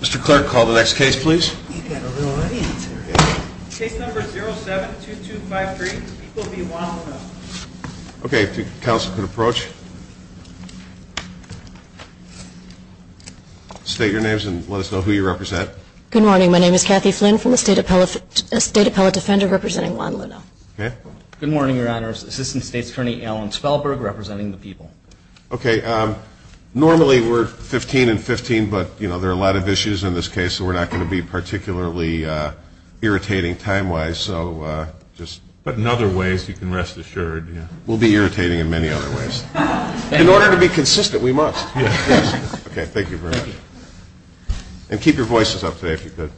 Mr. Clerk, call the next case, please. You've got a little audience here. Case number 07-2253, People v. Juan Luna. Okay, if the Council could approach. State your names and let us know who you represent. Good morning. My name is Kathy Flynn from the State Appellate Defender representing Juan Luna. Good morning, Your Honor. Assistant State's Attorney Alan Spellberg representing the People. Okay, normally we're 15 and 15, but there are a lot of issues in this case, so we're not going to be particularly irritating time-wise. But in other ways, you can rest assured. We'll be irritating in many other ways. In order to be consistent, we must. Okay, thank you very much. And keep your voices up today if you could.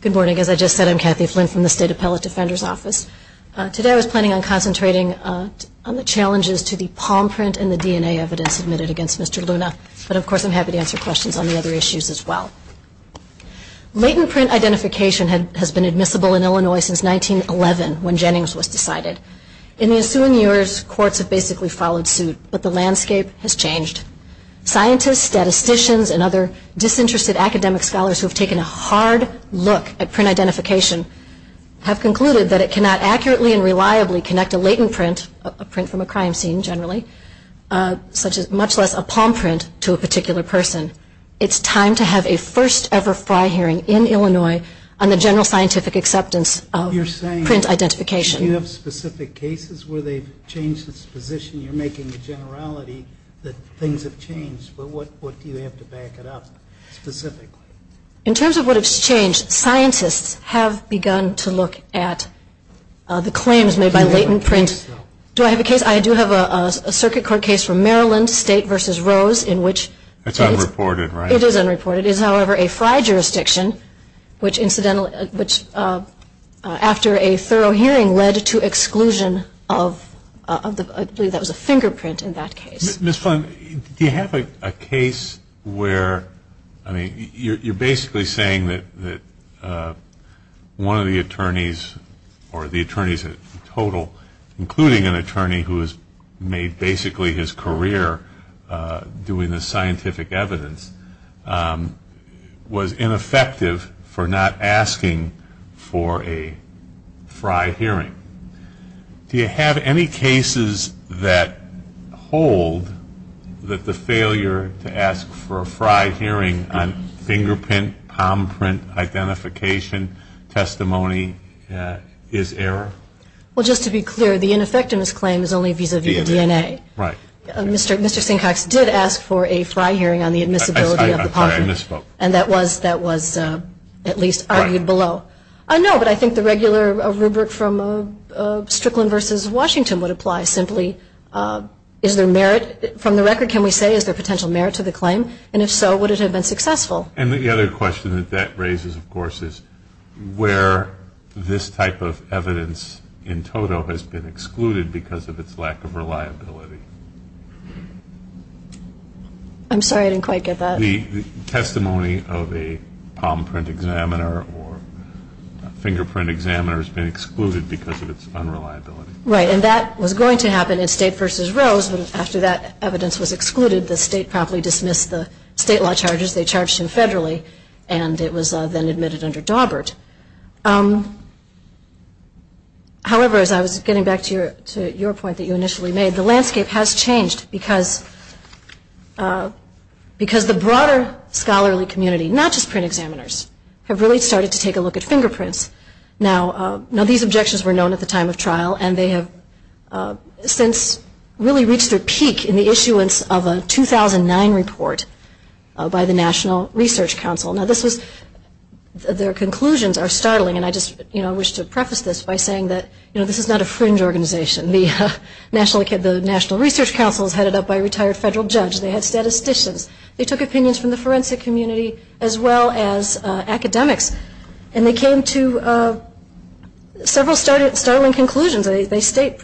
Good morning. As I just said, I'm Kathy Flynn from the State Appellate Defender's Office. Today I was planning on concentrating on the challenges to the palm print and the DNA evidence submitted against Mr. Luna, but of course I'm happy to answer questions on the other issues as well. Latent print identification has been admissible in Illinois since 1911 when Jennings was decided. In the ensuing years, courts have basically followed suit, but the landscape has changed. Scientists, statisticians, and other disinterested academic scholars who have taken a hard look at print identification have concluded that it cannot accurately and reliably connect a latent print, a print from a crime scene generally, much less a palm print to a particular person. It's time to have a first-ever Fry hearing in Illinois on the general scientific acceptance of print identification. Do you have specific cases where they've changed its position? You're making the generality that things have changed, but what do you have to back it up specifically? In terms of what has changed, scientists have begun to look at the claims made by latent print. Do I have a case? I do have a circuit court case from Maryland, State v. Rose, in which case- It's unreported, right? It is unreported. It is, however, a Fry jurisdiction, which incidentally- which after a thorough hearing led to exclusion of the- I believe that was a fingerprint in that case. Ms. Klein, do you have a case where- I mean, you're basically saying that one of the attorneys or the attorneys in total, including an attorney who has made basically his career doing the scientific evidence, was ineffective for not asking for a Fry hearing. Do you have any cases that hold that the failure to ask for a Fry hearing on fingerprint, palm print, identification, testimony, is error? Well, just to be clear, the ineffectiveness claim is only vis-a-vis DNA. Right. Mr. Sinkox did ask for a Fry hearing on the admissibility of the palm print. I'm sorry, I misspoke. And that was at least argued below. I know, but I think the regular rubric from Strickland v. Washington would apply. Simply, is there merit? From the record, can we say is there potential merit to the claim? And if so, would it have been successful? And the other question that that raises, of course, is where this type of evidence in total has been excluded because of its lack of reliability. I'm sorry, I didn't quite get that. The testimony of a palm print examiner or a fingerprint examiner has been excluded because of its unreliability. Right, and that was going to happen in State v. Rose, but after that evidence was excluded, the State promptly dismissed the State law charges. They charged him federally, and it was then admitted under Dawbert. However, as I was getting back to your point that you initially made, the landscape has changed because the broader scholarly community, not just print examiners, have really started to take a look at fingerprints. Now, these objections were known at the time of trial, and they have since really reached their peak in the issuance of a 2009 report by the National Research Council. Now, their conclusions are startling, and I just wish to preface this by saying that this is not a fringe organization. The National Research Council is headed up by a retired federal judge. They had statisticians. They took opinions from the forensic community as well as academics, and they came to several startling conclusions. They state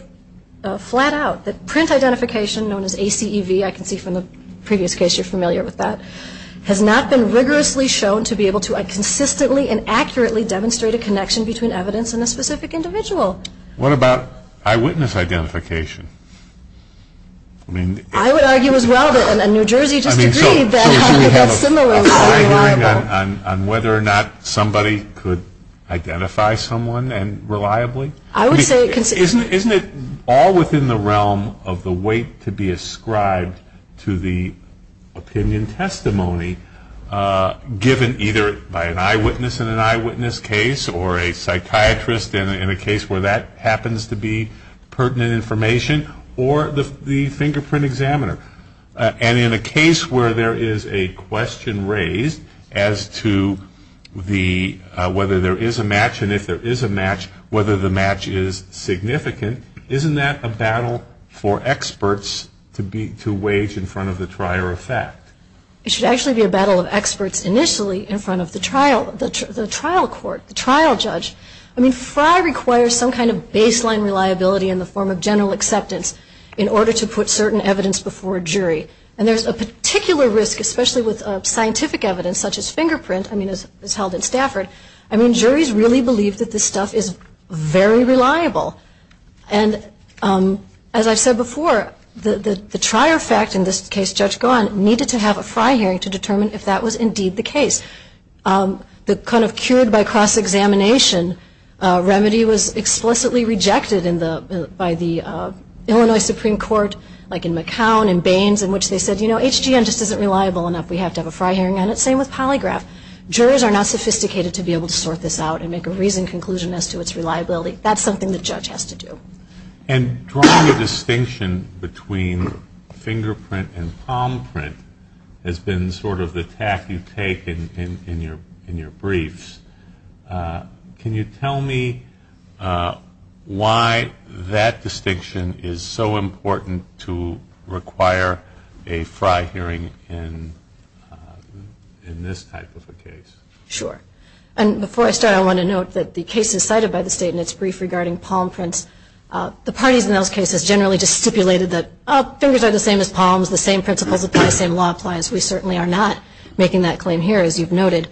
flat out that print identification, known as ACEV, I can see from the previous case you're familiar with that, has not been rigorously shown to be able to consistently and accurately demonstrate a connection between evidence and a specific individual. What about eyewitness identification? I would argue as well that New Jersey just agreed that that's similar. On whether or not somebody could identify someone reliably? Isn't it all within the realm of the weight to be ascribed to the opinion testimony given either by an eyewitness in an eyewitness case or a psychiatrist in a case where that happens to be pertinent information or the fingerprint examiner? And in a case where there is a question raised as to whether there is a match and if there is a match, whether the match is significant, isn't that a battle for experts to wage in front of the trier of fact? It should actually be a battle of experts initially in front of the trial court, the trial judge. I mean, FRI requires some kind of baseline reliability in the form of general acceptance in order to put certain evidence before a jury. And there's a particular risk, especially with scientific evidence such as fingerprint, I mean, as held in Stafford. I mean, juries really believe that this stuff is very reliable. And as I've said before, the trier of fact in this case, Judge Gahan, needed to have a FRI hearing to determine if that was indeed the case. The kind of cured by cross-examination remedy was explicitly rejected by the Illinois Supreme Court, like in McCown and Baines, in which they said, you know, HGN just isn't reliable enough. We have to have a FRI hearing on it. Same with polygraph. Jurors are not sophisticated to be able to sort this out and make a reasoned conclusion as to its reliability. That's something the judge has to do. And drawing a distinction between fingerprint and palm print has been sort of the tack you take in your briefs. Can you tell me why that distinction is so important to require a FRI hearing in this type of a case? Sure. And before I start, I want to note that the case is cited by the state in its brief regarding palm prints. The parties in those cases generally just stipulated that fingers are the same as palms, the same principles apply, the same law applies. We certainly are not making that claim here, as you've noted.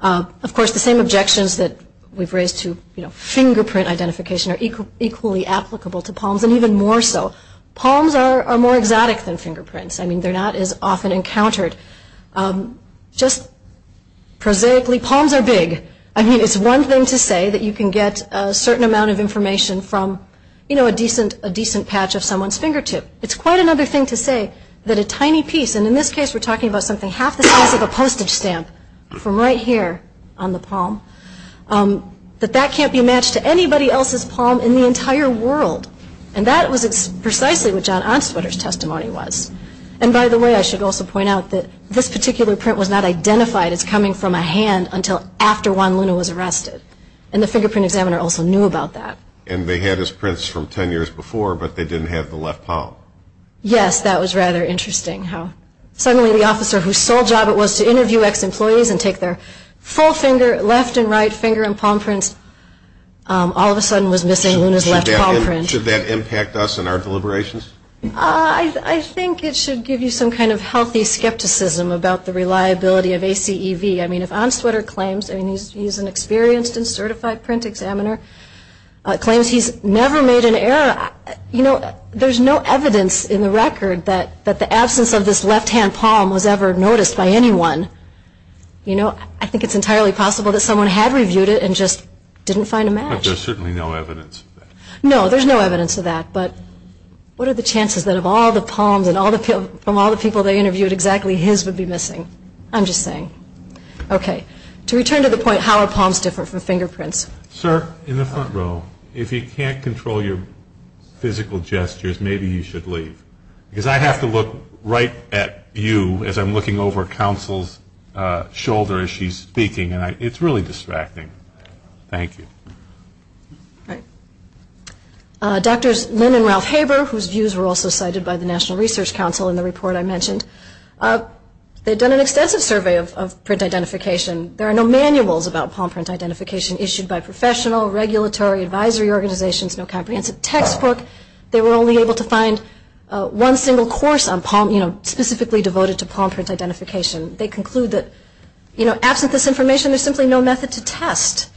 Of course, the same objections that we've raised to, you know, fingerprint identification are equally applicable to palms, and even more so. Palms are more exotic than fingerprints. I mean, they're not as often encountered. Just prosaically, palms are big. I mean, it's one thing to say that you can get a certain amount of information from, you know, a decent patch of someone's fingertip. It's quite another thing to say that a tiny piece, and in this case we're talking about something half the size of a postage stamp from right here on the palm, that that can't be matched to anybody else's palm in the entire world. And that was precisely what John Onswetter's testimony was. And by the way, I should also point out that this particular print was not identified as coming from a hand until after Juan Luna was arrested, and the fingerprint examiner also knew about that. And they had his prints from 10 years before, but they didn't have the left palm. Yes, that was rather interesting how suddenly the officer whose sole job it was to interview ex-employees and take their full finger, left and right finger and palm prints, all of a sudden was missing Luna's left palm print. Should that impact us in our deliberations? I think it should give you some kind of healthy skepticism about the reliability of ACEV. I mean, if Onswetter claims he's an experienced and certified print examiner, claims he's never made an error, you know, there's no evidence in the record that the absence of this left-hand palm was ever noticed by anyone. You know, I think it's entirely possible that someone had reviewed it and just didn't find a match. But there's certainly no evidence of that. No, there's no evidence of that. But what are the chances that of all the palms from all the people they interviewed, exactly his would be missing? I'm just saying. Okay. To return to the point, how are palms different from fingerprints? Sir, in the front row, if you can't control your physical gestures, maybe you should leave. Because I have to look right at you as I'm looking over counsel's shoulder as she's speaking, and it's really distracting. Thank you. All right. Doctors Lynn and Ralph Haber, whose views were also cited by the National Research Council in the report I mentioned, they'd done an extensive survey of print identification. There are no manuals about palm print identification issued by professional, regulatory, advisory organizations, no comprehensive textbook. They were only able to find one single course on palm, you know, specifically devoted to palm print identification. They conclude that, you know, absent this information, there's simply no method to test.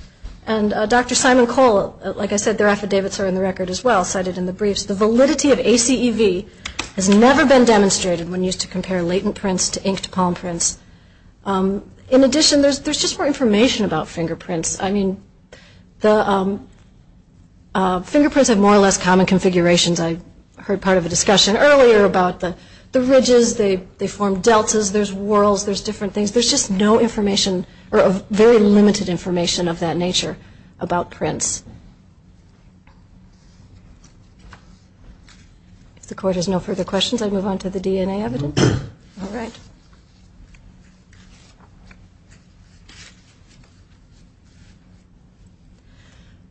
And Dr. Simon Cole, like I said, their affidavits are in the record as well, cited in the briefs. The validity of ACEV has never been demonstrated when used to compare latent prints to inked palm prints. In addition, there's just more information about fingerprints. I mean, the fingerprints have more or less common configurations. I heard part of a discussion earlier about the ridges, they form deltas, there's whorls, there's different things. There's just no information or very limited information of that nature about prints. If the Court has no further questions, I move on to the DNA evidence. All right.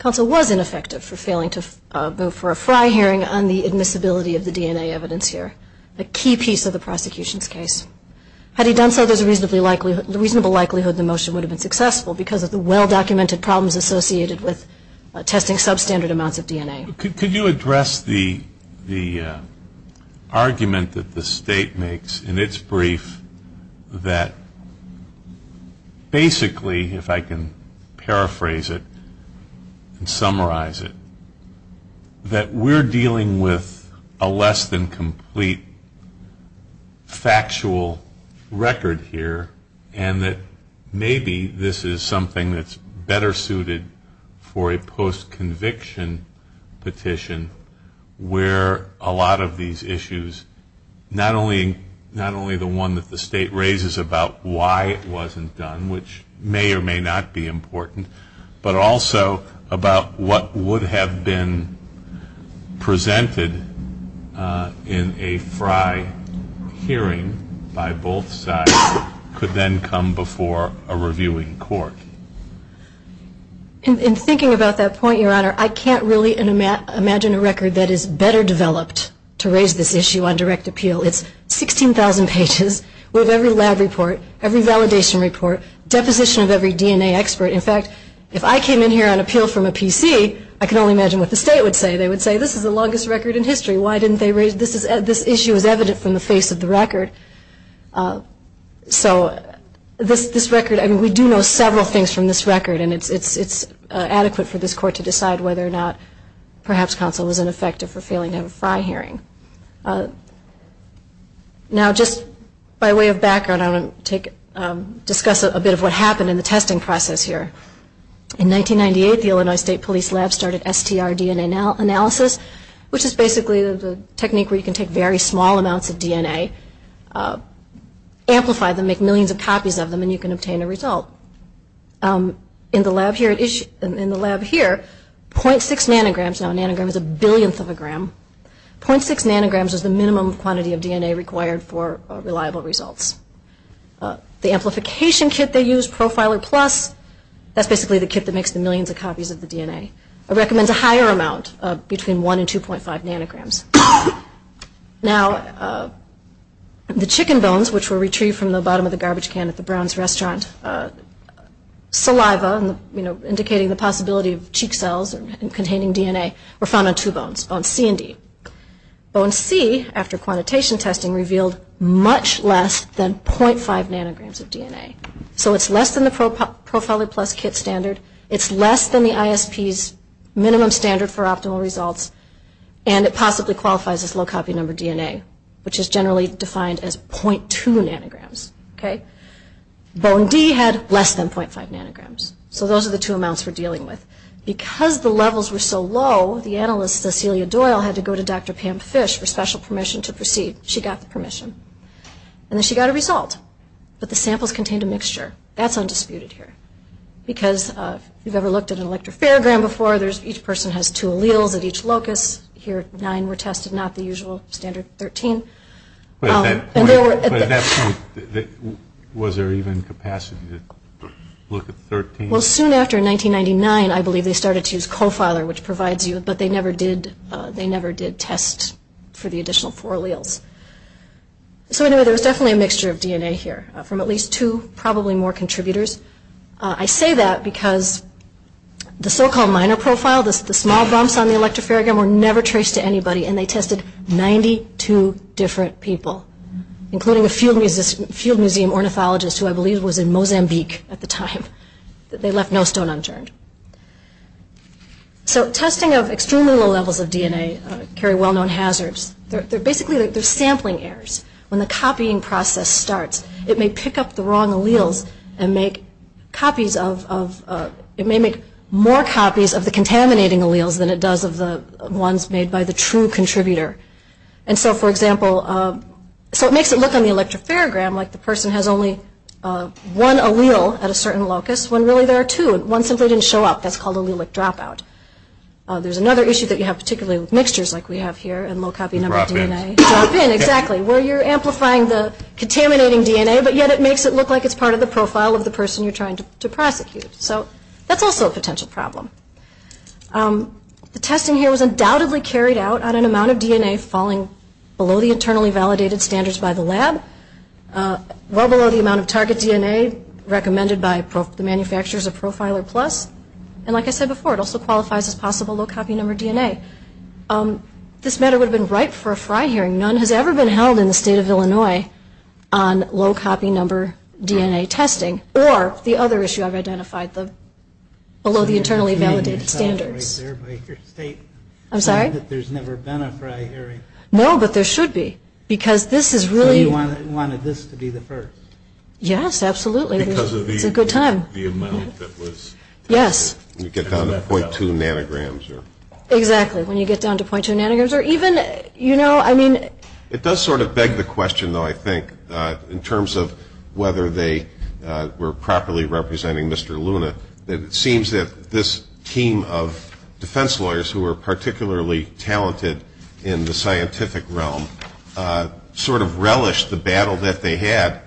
Counsel was ineffective for failing to vote for a Fry hearing on the admissibility of the DNA evidence here, a key piece of the prosecution's case. Had he done so, there's a reasonable likelihood the motion would have been successful because of the well-documented problems associated with testing substandard amounts of DNA. Could you address the argument that the State makes in its brief that basically, if I can paraphrase it and summarize it, that we're dealing with a less than complete factual record here and that maybe this is something that's better suited for a post-conviction petition where a lot of these issues, not only the one that the State raises about why it wasn't done, which may or may not be important, but also about what would have been presented in a Fry hearing by both sides could then come before a reviewing court? In thinking about that point, Your Honor, I can't really imagine a record that is better developed to raise this issue on direct appeal. It's 16,000 pages with every lab report, every validation report, deposition of every DNA expert. In fact, if I came in here on appeal from a PC, I can only imagine what the State would say. They would say, this is the longest record in history. Why didn't they raise this? This issue is evident from the face of the record. So this record, I mean, we do know several things from this record, and it's adequate for this Court to decide whether or not perhaps counsel was ineffective for failing to have a Fry hearing. Now, just by way of background, I want to discuss a bit of what happened in the testing process here. In 1998, the Illinois State Police Lab started STR DNA analysis, which is basically the technique where you can take very small amounts of DNA, amplify them, make millions of copies of them, and you can obtain a result. In the lab here, 0.6 nanograms, now a nanogram is a billionth of a gram, 0.6 nanograms is the minimum quantity of DNA required for reliable results. The amplification kit they use, Profiler Plus, that's basically the kit that makes the millions of copies of the DNA. I recommend a higher amount, between 1 and 2.5 nanograms. Now, the chicken bones, which were retrieved from the bottom of the garbage can at the Brown's restaurant, saliva, indicating the possibility of cheek cells containing DNA, were found on two bones, bone C and D. Bone C, after quantitation testing, revealed much less than 0.5 nanograms of DNA. So it's less than the Profiler Plus kit standard, it's less than the ISP's minimum standard for optimal results, and it possibly qualifies as low copy number DNA, which is generally defined as 0.2 nanograms. Bone D had less than 0.5 nanograms. So those are the two amounts we're dealing with. Because the levels were so low, the analyst, Cecilia Doyle, had to go to Dr. Pam Fish for special permission to proceed. She got the permission, and then she got a result, but the samples contained a mixture. That's undisputed here, because if you've ever looked at an electropharogram before, each person has two alleles at each locus. Here, nine were tested, not the usual standard 13. But at that point, was there even capacity to look at 13? Well, soon after, in 1999, I believe they started to use CoFiler, which provides you, but they never did test for the additional four alleles. So anyway, there was definitely a mixture of DNA here, from at least two, probably more contributors. I say that because the so-called minor profile, the small bumps on the electropharogram, were never traced to anybody, and they tested 92 different people, including a field museum ornithologist who I believe was in Mozambique at the time. They left no stone unturned. So testing of extremely low levels of DNA carry well-known hazards. They're basically, they're sampling errors. When the copying process starts, it may pick up the wrong alleles and make copies of, it may make more copies of the contaminating alleles than it does of the ones made by the true contributor. And so, for example, so it makes it look on the electropharogram like the person has only one allele at a certain locus, when really there are two, and one simply didn't show up. That's called allelic dropout. There's another issue that you have, particularly with mixtures like we have here, and low copy number DNA. Drop-ins. Drop-in, exactly, where you're amplifying the contaminating DNA, but yet it makes it look like it's part of the profile of the person you're trying to prosecute. So that's also a potential problem. The testing here was undoubtedly carried out on an amount of DNA falling below the internally validated standards by the lab, well below the amount of target DNA recommended by the manufacturers of Profiler Plus, and like I said before, it also qualifies as possible low copy number DNA. This matter would have been ripe for a Fry hearing. None has ever been held in the state of Illinois on low copy number DNA testing, or the other issue I've identified, below the internally validated standards. I'm sorry? There's never been a Fry hearing. No, but there should be, because this is really... So you wanted this to be the first. Yes, absolutely. Because of the amount that was tested. Yes. When you get down to .2 nanograms. Exactly, when you get down to .2 nanograms, or even, you know, I mean... It does sort of beg the question, though, I think, in terms of whether they were properly representing Mr. Luna, that it seems that this team of defense lawyers who were particularly talented in the scientific realm sort of relished the battle that they had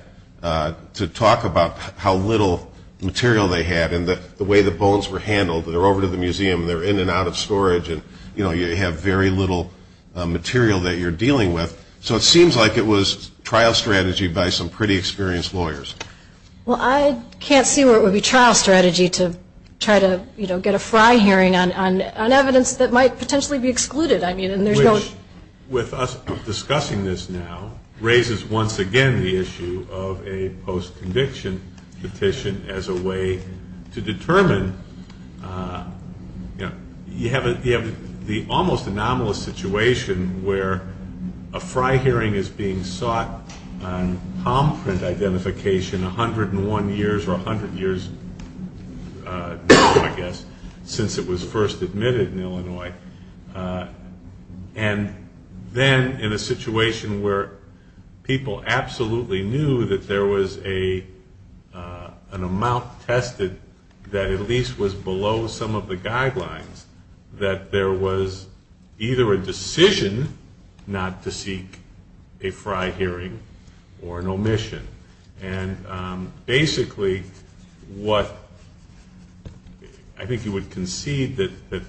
to talk about how little material they had and the way the bones were handled. They're over to the museum, they're in and out of storage, and, you know, you have very little material that you're dealing with. So it seems like it was trial strategy by some pretty experienced lawyers. Well, I can't see where it would be trial strategy to try to, you know, get a Fry hearing on evidence that might potentially be excluded. Which, with us discussing this now, raises once again the issue of a post-conviction petition as a way to determine, you know, you have the almost anomalous situation where a Fry hearing is being sought on palm print identification 101 years or 100 years ago, I guess, since it was first admitted in Illinois. And then in a situation where people absolutely knew that there was an amount tested that at least was below some of the guidelines, that there was either a decision not to seek a Fry hearing or an omission. And basically what I think you would concede that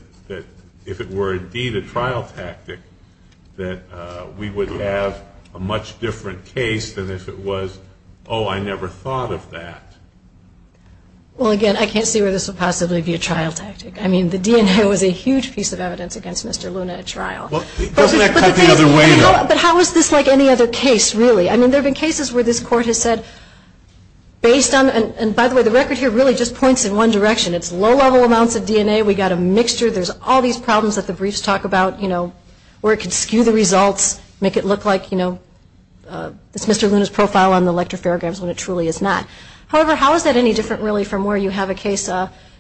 if it were indeed a trial tactic, that we would have a much different case than if it was, oh, I never thought of that. Well, again, I can't see where this would possibly be a trial tactic. I mean, the DNA was a huge piece of evidence against Mr. Luna at trial. Doesn't that cut the other way, though? But how is this like any other case, really? I mean, there have been cases where this court has said based on, and by the way, the record here really just points in one direction. It's low-level amounts of DNA. We've got a mixture. There's all these problems that the briefs talk about, you know, where it could skew the results, make it look like, you know, it's Mr. Luna's profile on the elective paragraphs when it truly is not. However, how is that any different, really, from where you have a case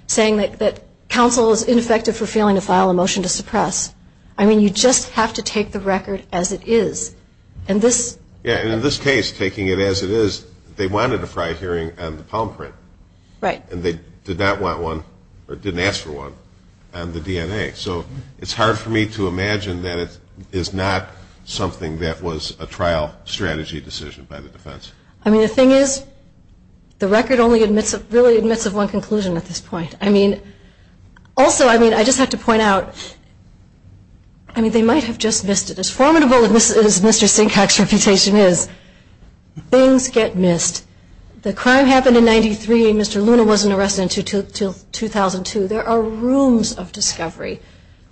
saying that counsel is ineffective for failing to file a motion to suppress? I mean, you just have to take the record as it is. Yeah, and in this case, taking it as it is, they wanted a prior hearing on the palm print. Right. And they did not want one, or didn't ask for one, on the DNA. So it's hard for me to imagine that it is not something that was a trial strategy decision by the defense. I mean, the thing is, the record really admits of one conclusion at this point. I mean, also, I mean, I just have to point out, I mean, they might have just missed it. As formidable as Mr. Sinkock's reputation is, things get missed. The crime happened in 93, and Mr. Luna wasn't arrested until 2002. There are rooms of discovery.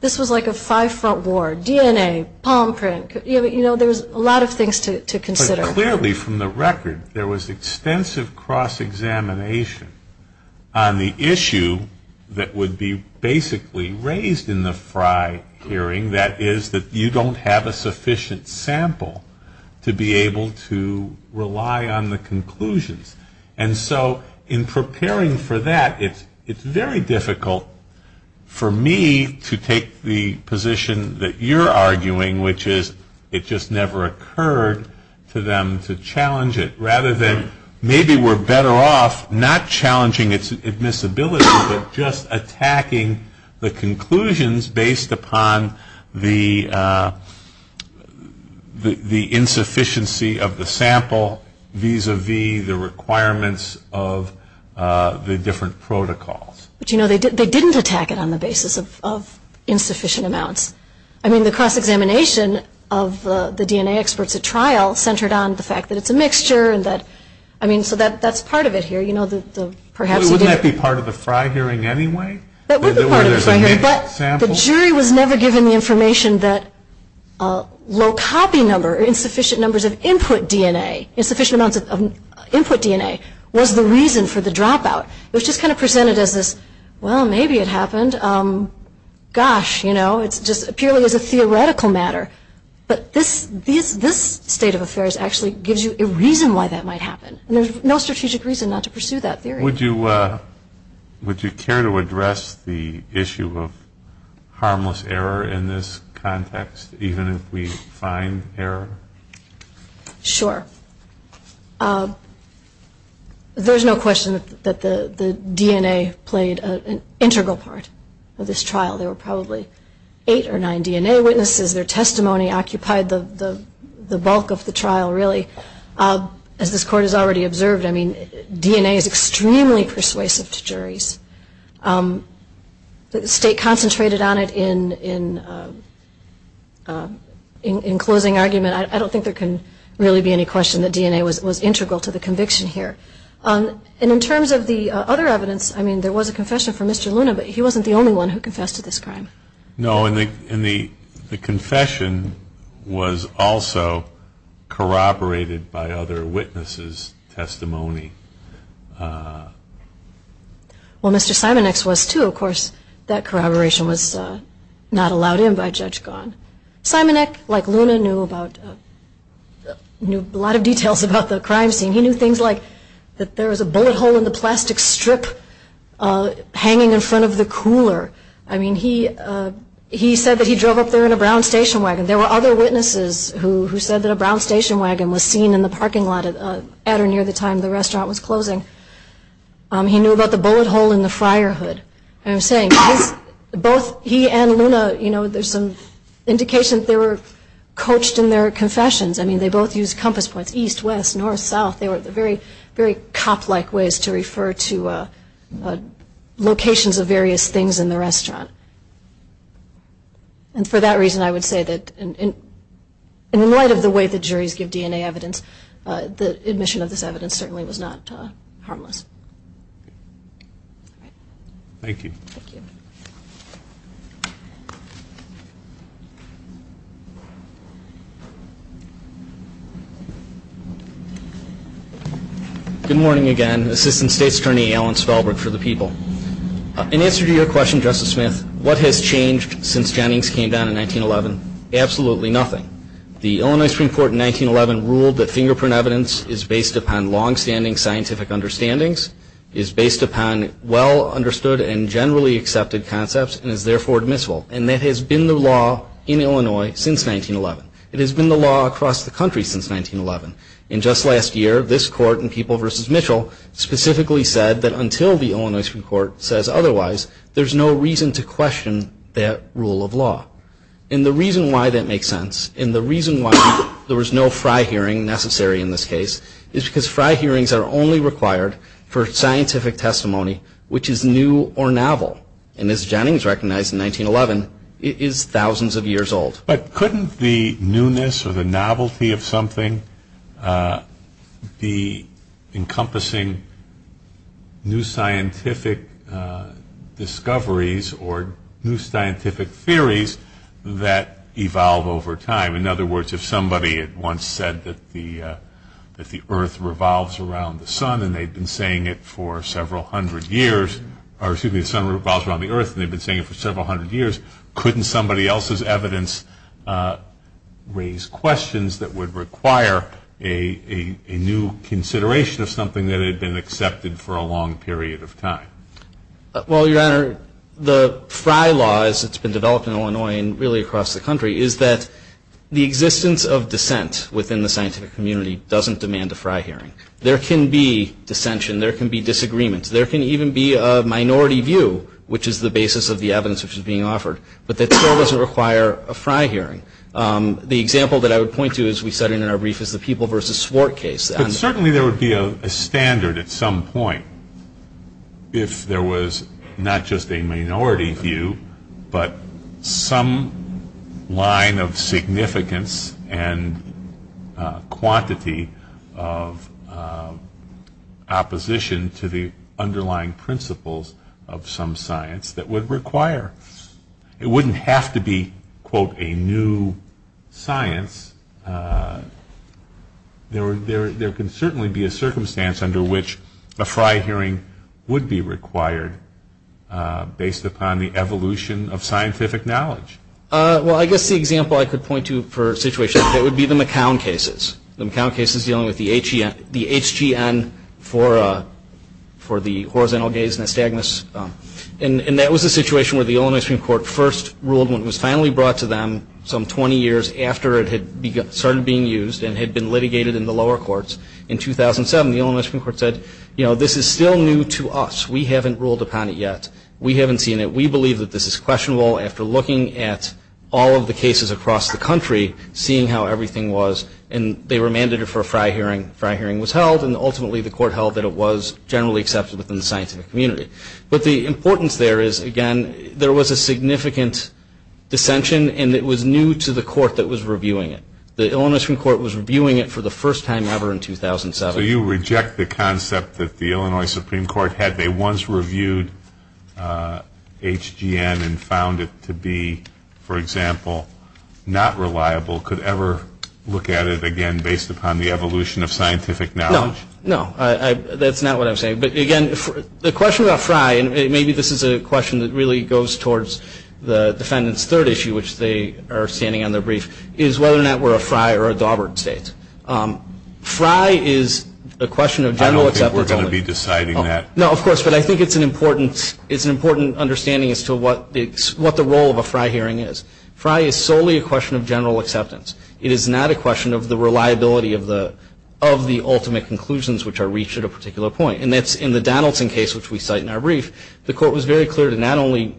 This was like a five-front war. DNA, palm print, you know, there's a lot of things to consider. But clearly, from the record, there was extensive cross-examination on the issue that would be basically raised in the sufficient sample to be able to rely on the conclusions. And so in preparing for that, it's very difficult for me to take the position that you're arguing, which is it just never occurred to them to challenge it, rather than maybe we're better off not challenging its admissibility, but just attacking the conclusions based upon the insufficiency of the sample, vis-a-vis the requirements of the different protocols. But, you know, they didn't attack it on the basis of insufficient amounts. I mean, the cross-examination of the DNA experts at trial centered on the fact that it's a mixture, and that, I mean, so that's part of it here. Wouldn't that be part of the Fry hearing anyway? The jury was never given the information that low copy number, insufficient numbers of input DNA, insufficient amounts of input DNA was the reason for the dropout. It was just kind of presented as this, well, maybe it happened. Gosh, you know, it's just purely as a theoretical matter. But this state of affairs actually gives you a reason why that might happen. And there's no strategic reason not to pursue that theory. Would you care to address the issue of harmless error in this context, even if we find error? Sure. There's no question that the DNA played an integral part of this trial. There were probably eight or nine DNA witnesses. Their testimony occupied the bulk of the trial, really. As this Court has already observed, I mean, DNA is extremely persuasive to juries. The state concentrated on it in closing argument. I don't think there can really be any question that DNA was integral to the conviction here. And in terms of the other evidence, I mean, there was a confession from Mr. Luna, but he wasn't the only one who confessed to this crime. No, and the confession was also corroborated by other witnesses' testimony. Well, Mr. Simonek's was, too. Of course, that corroboration was not allowed in by Judge Gahn. Simonek, like Luna, knew a lot of details about the crime scene. He knew things like that there was a bullet hole in the plastic strip hanging in front of the cooler. I mean, he said that he drove up there in a brown station wagon. There were other witnesses who said that a brown station wagon was seen in the parking lot at or near the time the restaurant was closing. He knew about the bullet hole in the fryer hood. I'm saying, both he and Luna, you know, there's some indication that they were coached in their confessions. I mean, they both used compass points, east, west, north, south. They were very cop-like ways to refer to locations of various things in the restaurant. And for that reason, I would say that in light of the way the juries give DNA evidence, the admission of this evidence certainly was not harmless. Thank you. Thank you. Good morning again. Assistant State's Attorney Alan Spelberg for the People. In answer to your question, Justice Smith, what has changed since Jennings came down in 1911? Absolutely nothing. The Illinois Supreme Court in 1911 ruled that fingerprint evidence is based upon long-standing scientific understandings, is based upon well-understood and generally accepted concepts, and is therefore admissible. And that has been the law in Illinois since 1911. It has been the law across the country since 1911. And just last year, this Court in People v. Mitchell specifically said that until the Illinois Supreme Court says otherwise, there's no reason to question that rule of law. And the reason why that makes sense and the reason why there was no Fry hearing necessary in this case is because Fry hearings are only required for scientific testimony which is new or novel. And as Jennings recognized in 1911, it is thousands of years old. But couldn't the newness or the novelty of something be encompassing new scientific discoveries or new scientific theories that evolve over time? In other words, if somebody had once said that the earth revolves around the sun and they'd been saying it for several hundred years, or excuse me, the sun revolves around the earth and they've been saying it for several hundred years, couldn't somebody else's evidence raise questions that would require a new consideration of something that had been accepted for a long period of time? Well, Your Honor, the Fry Law, as it's been developed in Illinois and really across the country, is that the existence of dissent within the scientific community doesn't demand a Fry hearing. There can be dissension. There can be disagreements. There can even be a minority view, which is the basis of the evidence which is being offered, but that still doesn't require a Fry hearing. The example that I would point to, as we said in our brief, is the People v. Swart case. But certainly there would be a standard at some point if there was not just a minority view but some line of significance and quantity of opposition to the underlying principles of some science that would require. It wouldn't have to be, quote, a new science. There can certainly be a circumstance under which a Fry hearing would be required based upon the evolution of scientific knowledge. Well, I guess the example I could point to for a situation like that would be the McCown cases, the McCown cases dealing with the HGN for the horizontal gaze nystagmus. And that was a situation where the Illinois Supreme Court first ruled when it was finally brought to them some 20 years after it had started being used and had been litigated in the lower courts. In 2007, the Illinois Supreme Court said, you know, this is still new to us. We haven't ruled upon it yet. We haven't seen it. We believe that this is questionable after looking at all of the cases across the country, seeing how everything was. And they were mandated for a Fry hearing. The Fry hearing was held, and ultimately the court held that it was generally accepted within the scientific community. But the importance there is, again, there was a significant dissension, and it was new to the court that was reviewing it. The Illinois Supreme Court was reviewing it for the first time ever in 2007. So you reject the concept that the Illinois Supreme Court, had they once reviewed HGN and found it to be, for example, not reliable, could ever look at it again based upon the evolution of scientific knowledge? No. No, that's not what I'm saying. But, again, the question about Fry, and maybe this is a question that really goes towards the defendant's third issue, which they are standing on their brief, is whether or not we're a Fry or a Daubert state. Fry is a question of general acceptance. I don't think we're going to be deciding that. No, of course, but I think it's an important understanding as to what the role of a Fry hearing is. Fry is solely a question of general acceptance. It is not a question of the reliability of the ultimate conclusions, which are reached at a particular point. And that's in the Donaldson case, which we cite in our brief, the court was very clear to not only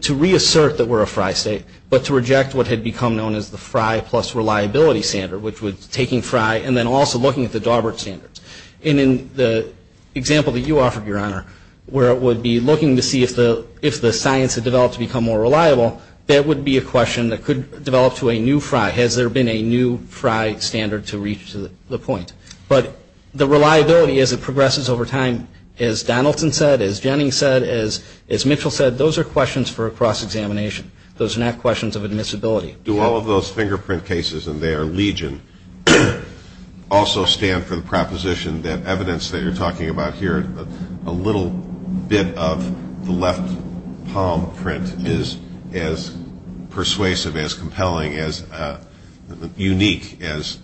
to reassert that we're a Fry state, but to reject what had become known as the Fry plus reliability standard, which was taking Fry and then also looking at the Daubert standards. And in the example that you offered, Your Honor, where it would be looking to see if the science had developed to become more reliable, that would be a question that could develop to a new Fry. Has there been a new Fry standard to reach the point? But the reliability, as it progresses over time, as Donaldson said, as Jennings said, as Mitchell said, those are questions for a cross-examination. Those are not questions of admissibility. Do all of those fingerprint cases and their legion also stand for the proposition that evidence that you're talking about here, a little bit of the left palm print, is as persuasive, as compelling, as unique as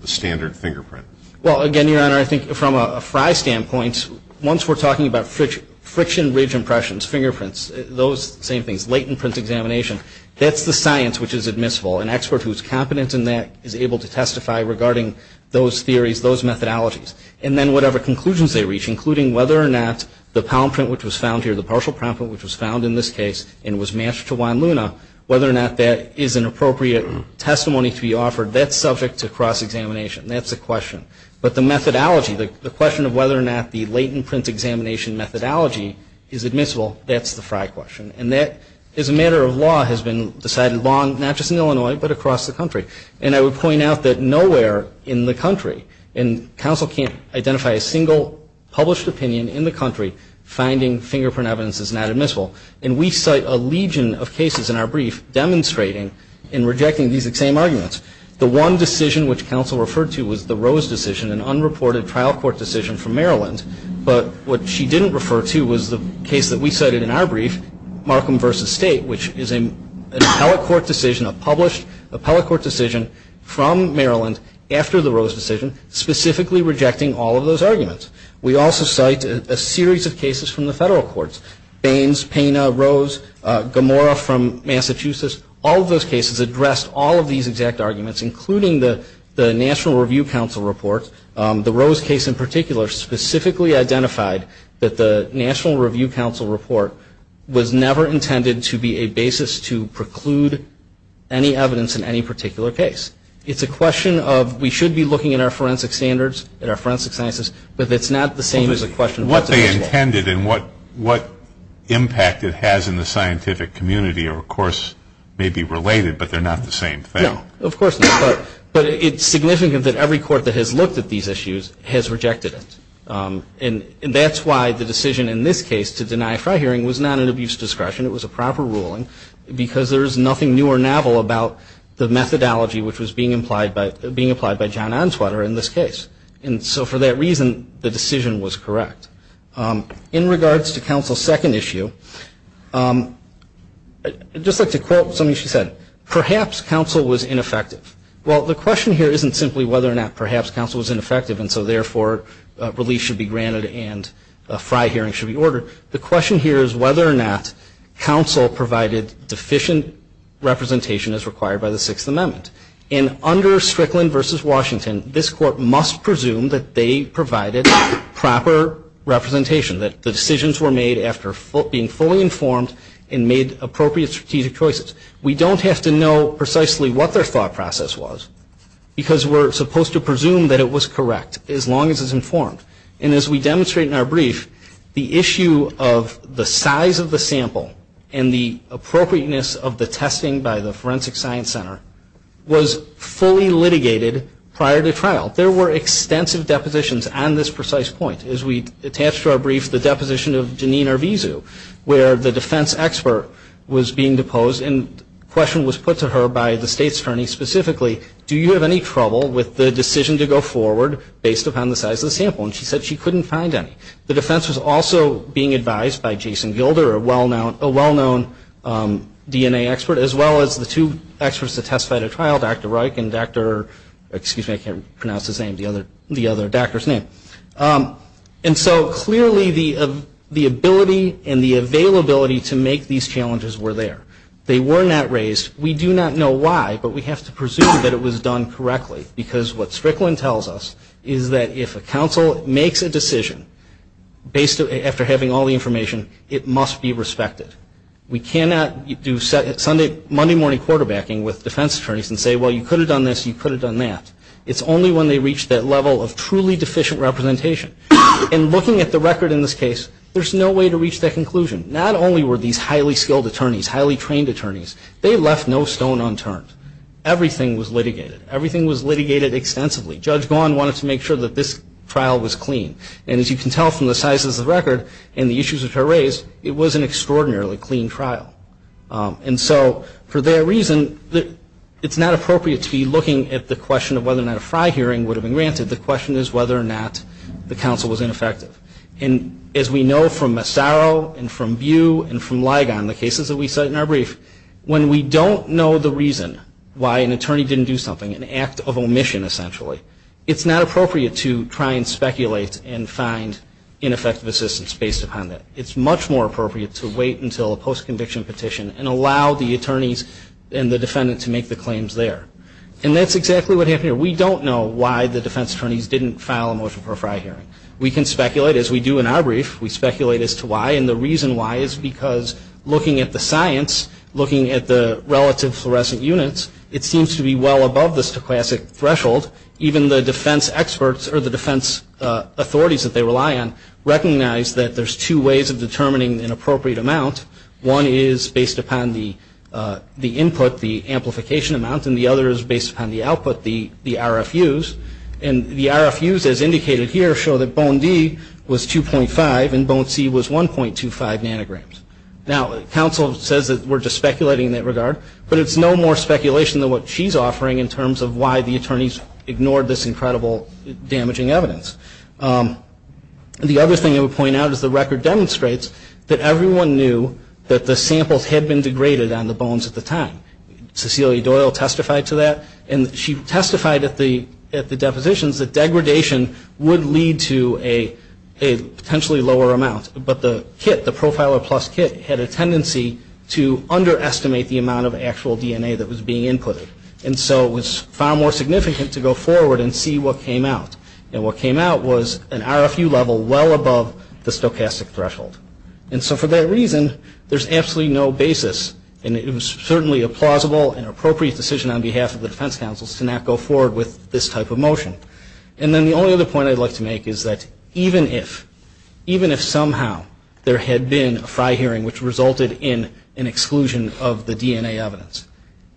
the standard fingerprint? Well, again, Your Honor, I think from a Fry standpoint, once we're talking about friction ridge impressions, fingerprints, those same things, latent print examination, that's the science which is admissible. An expert who is competent in that is able to testify regarding those theories, those methodologies. And then whatever conclusions they reach, including whether or not the palm print which was found here, the partial palm print which was found in this case and was matched to Juan Luna, whether or not that is an appropriate testimony to be offered, that's subject to cross-examination. That's a question. But the methodology, the question of whether or not the latent print examination methodology is admissible, that's the Fry question. And that, as a matter of law, has been decided long, not just in Illinois, but across the country. And I would point out that nowhere in the country, and counsel can't identify a single published opinion in the country, finding fingerprint evidence is not admissible. And we cite a legion of cases in our brief demonstrating and rejecting these same arguments. The one decision which counsel referred to was the Rose decision, an unreported trial court decision from Maryland. But what she didn't refer to was the case that we cited in our brief, Markham v. State, which is an appellate court decision, a published appellate court decision from Maryland after the Rose decision, specifically rejecting all of those arguments. We also cite a series of cases from the federal courts, Baines, Pena, Rose, Gamora from Massachusetts. All of those cases addressed all of these exact arguments, including the National Review Counsel report. The Rose case in particular specifically identified that the National Review Counsel report was never intended to be a basis to preclude any evidence in any particular case. It's a question of we should be looking at our forensic standards, at our forensic sciences, but it's not the same as a question of what they intended. And what impact it has in the scientific community, of course, may be related, but they're not the same thing. No, of course not. But it's significant that every court that has looked at these issues has rejected it. And that's why the decision in this case to deny a trial hearing was not an abuse of discretion. It was a proper ruling because there is nothing new or novel about the methodology which was being applied by John Onswater in this case. And so for that reason, the decision was correct. In regards to counsel's second issue, I'd just like to quote something she said. Perhaps counsel was ineffective. Well, the question here isn't simply whether or not perhaps counsel was ineffective and so therefore release should be granted and a fri hearing should be ordered. The question here is whether or not counsel provided deficient representation as required by the Sixth Amendment. And under Strickland v. Washington, this court must presume that they provided proper representation, that the decisions were made after being fully informed and made appropriate strategic choices. We don't have to know precisely what their thought process was because we're supposed to presume that it was correct as long as it's informed. And as we demonstrate in our brief, the issue of the size of the sample and the appropriateness of the testing by the Forensic Science Center was fully litigated prior to trial. There were extensive depositions on this precise point. As we attach to our brief, the deposition of Janine Arvizu, where the defense expert was being deposed and the question was put to her by the state's attorney specifically, do you have any trouble with the decision to go forward based upon the size of the sample? And she said she couldn't find any. The defense was also being advised by Jason Gilder, a well-known DNA expert, as well as the two experts that testified at trial, Dr. Reich and Dr. excuse me, I can't pronounce his name, the other doctor's name. And so clearly the ability and the availability to make these challenges were there. They were not raised. We do not know why, but we have to presume that it was done correctly because what Strickland tells us is that if a counsel makes a decision after having all the information, it must be respected. We cannot do Monday morning quarterbacking with defense attorneys and say, well, you could have done this, you could have done that. It's only when they reach that level of truly deficient representation. And looking at the record in this case, there's no way to reach that conclusion. Not only were these highly skilled attorneys, highly trained attorneys, they left no stone unturned. Everything was litigated. Everything was litigated extensively. Judge Gawne wanted to make sure that this trial was clean. And as you can tell from the size of the record and the issues that are raised, it was an extraordinarily clean trial. And so for that reason, it's not appropriate to be looking at the question of whether or not a Fry hearing would have been granted. The question is whether or not the counsel was ineffective. And as we know from Massaro and from Bew and from Ligon, the cases that we cite in our brief, when we don't know the reason why an attorney didn't do something, an act of omission essentially, it's not appropriate to try and speculate and find ineffective assistance based upon that. It's much more appropriate to wait until a post-conviction petition and allow the attorneys and the defendant to make the claims there. And that's exactly what happened here. We don't know why the defense attorneys didn't file a motion for a Fry hearing. We can speculate, as we do in our brief. We speculate as to why. And the reason why is because looking at the science, looking at the relative fluorescent units, it seems to be well above the stochastic threshold. Even the defense experts or the defense authorities that they rely on recognize that there's two ways of determining an appropriate amount. One is based upon the input, the amplification amount, and the other is based upon the output, the RFUs. And the RFUs, as indicated here, show that bone D was 2.5 and bone C was 1.25 nanograms. Now, counsel says that we're just speculating in that regard, but it's no more speculation than what she's offering in terms of why the attorneys ignored this incredible damaging evidence. The other thing I would point out is the record demonstrates that everyone knew that the samples had been degraded on the bones at the time. Cecilia Doyle testified to that, and she testified at the depositions that degradation would lead to a potentially lower amount. But the kit, the Profiler Plus kit, had a tendency to underestimate the amount of actual DNA that was being inputted. And so it was far more significant to go forward and see what came out. And what came out was an RFU level well above the stochastic threshold. And so for that reason, there's absolutely no basis, and it was certainly a plausible and appropriate decision on behalf of the defense counsels to not go forward with this type of motion. And then the only other point I'd like to make is that even if, even if somehow there had been a Fry hearing which resulted in an exclusion of the DNA evidence,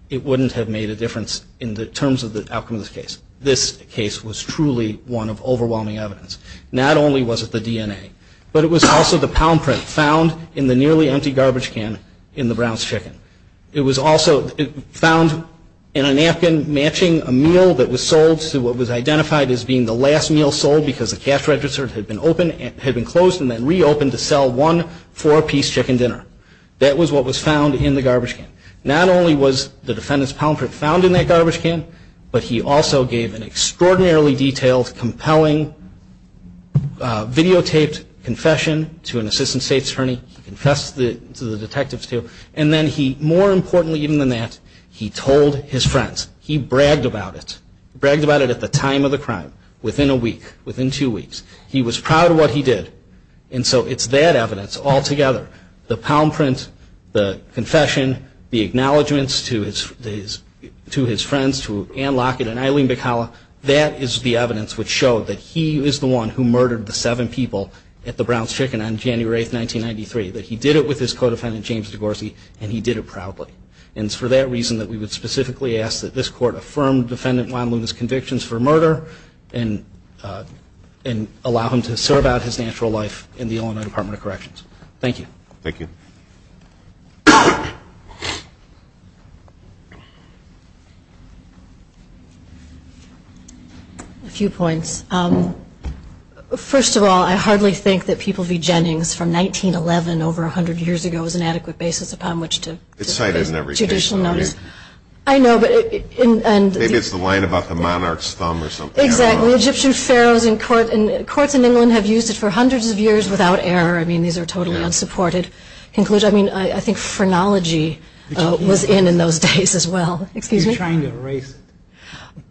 it wouldn't have made a difference in terms of the outcome of this case. This case was truly one of overwhelming evidence. Not only was it the DNA, but it was also the pound print found in the nearly empty garbage can in the Brown's chicken. It was also found in a napkin matching a meal that was sold to what was identified as being the last meal sold because the cash register had been closed and then reopened to sell one four-piece chicken dinner. That was what was found in the garbage can. Not only was the defendant's pound print found in that garbage can, but he also gave an extraordinarily detailed, compelling, videotaped confession to an assistant state attorney. He confessed to the detectives too. And then he, more importantly even than that, he told his friends. He bragged about it. He bragged about it at the time of the crime, within a week, within two weeks. He was proud of what he did. And so it's that evidence altogether. The pound print, the confession, the acknowledgments to his friends, to Ann Lockett and Eileen Bikala, that is the evidence which showed that he is the one who murdered the seven people at the Brown's chicken on January 8, 1993. That he did it with his co-defendant, James DeGorsey, and he did it proudly. And it's for that reason that we would specifically ask that this court affirm Defendant Juan Luna's convictions for murder and allow him to serve out his natural life in the Illinois Department of Corrections. Thank you. Thank you. A few points. First of all, I hardly think that People v. Jennings from 1911, over 100 years ago, was an adequate basis upon which to get judicial notice. It's cited in every case. I know, but it – Maybe it's the line about the monarch's thumb or something. Exactly. Egyptian pharaohs in court – courts in England have used it for hundreds of years without error. I mean, these are totally unsupported conclusions. I mean, I think phrenology was in in those days as well. Excuse me? You're trying to erase it.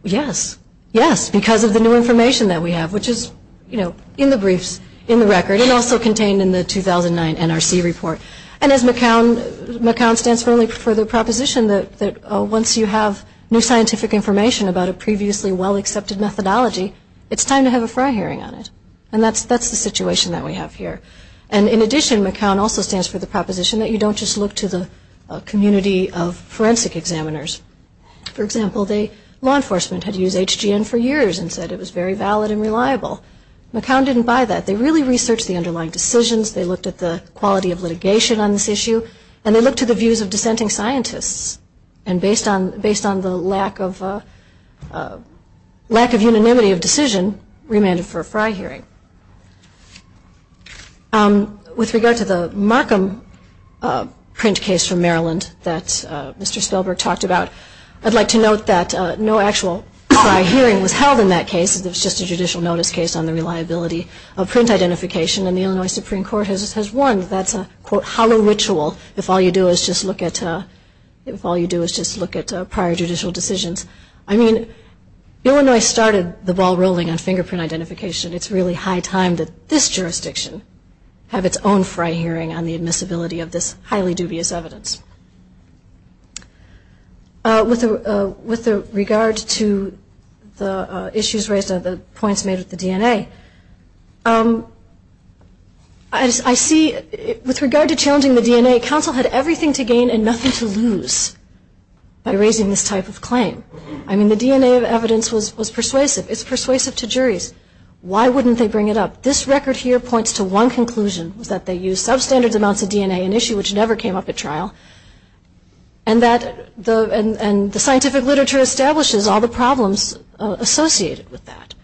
Yes. Yes, because of the new information that we have, which is, you know, in the briefs, in the record, and also contained in the 2009 NRC report. And as McCown – McCown stands for the proposition that once you have new scientific information about a previously well-accepted methodology, it's time to have a fry hearing on it. And that's the situation that we have here. And in addition, McCown also stands for the proposition that you don't just look to the community of forensic examiners. For example, law enforcement had used HGN for years and said it was very valid and reliable. McCown didn't buy that. They really researched the underlying decisions, they looked at the quality of litigation on this issue, and they looked at the views of dissenting scientists. And based on – based on the lack of – lack of unanimity of decision, remanded for a fry hearing. With regard to the Markham print case from Maryland that Mr. Spellberg talked about, I'd like to note that no actual fry hearing was held in that case. It was just a judicial notice case on the reliability of print identification. And the Illinois Supreme Court has warned that that's a, quote, hollow ritual if all you do is just look at – if all you do is just look at prior judicial decisions. I mean, Illinois started the ball rolling on fingerprint identification. It's really high time that this jurisdiction have its own fry hearing on the admissibility of this highly dubious evidence. With regard to the issues raised, the points made with the DNA, I see – with regard to challenging the DNA, counsel had everything to gain and nothing to lose by raising this type of claim. I mean, the DNA of evidence was persuasive. It's persuasive to juries. Why wouldn't they bring it up? This record here points to one conclusion, that they used substandard amounts of DNA, an issue which never came up at trial, and that the scientific literature establishes all the problems associated with that.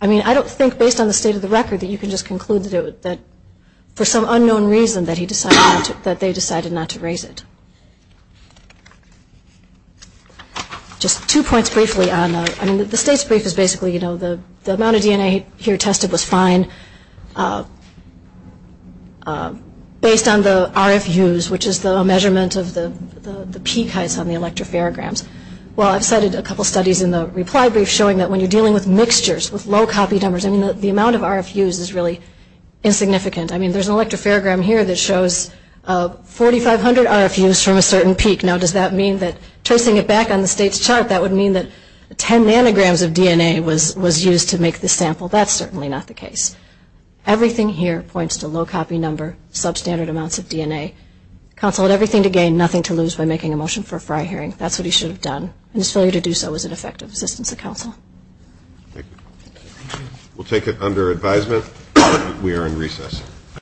I mean, I don't think, based on the state of the record, that you can just conclude that for some unknown reason that he decided not to – that they decided not to raise it. Just two points briefly on – I mean, the state's brief is basically, you know, the amount of DNA here tested was fine based on the RFUs, which is the measurement of the peak heights on the electropharograms. Well, I've cited a couple studies in the reply brief showing that when you're dealing with mixtures, with low copy numbers, I mean, the amount of RFUs is really insignificant. I mean, there's an electropharogram here that shows 4,500 RFUs from a certain peak. Now, does that mean that – tracing it back on the state's chart, that would mean that 10 nanograms of DNA was used to make this sample. That's certainly not the case. Everything here points to low copy number, substandard amounts of DNA. Counsel had everything to gain, nothing to lose by making a motion for a FRI hearing. That's what he should have done. And his failure to do so was an effect of assistance of counsel. Thank you. We'll take it under advisement. We are in recess.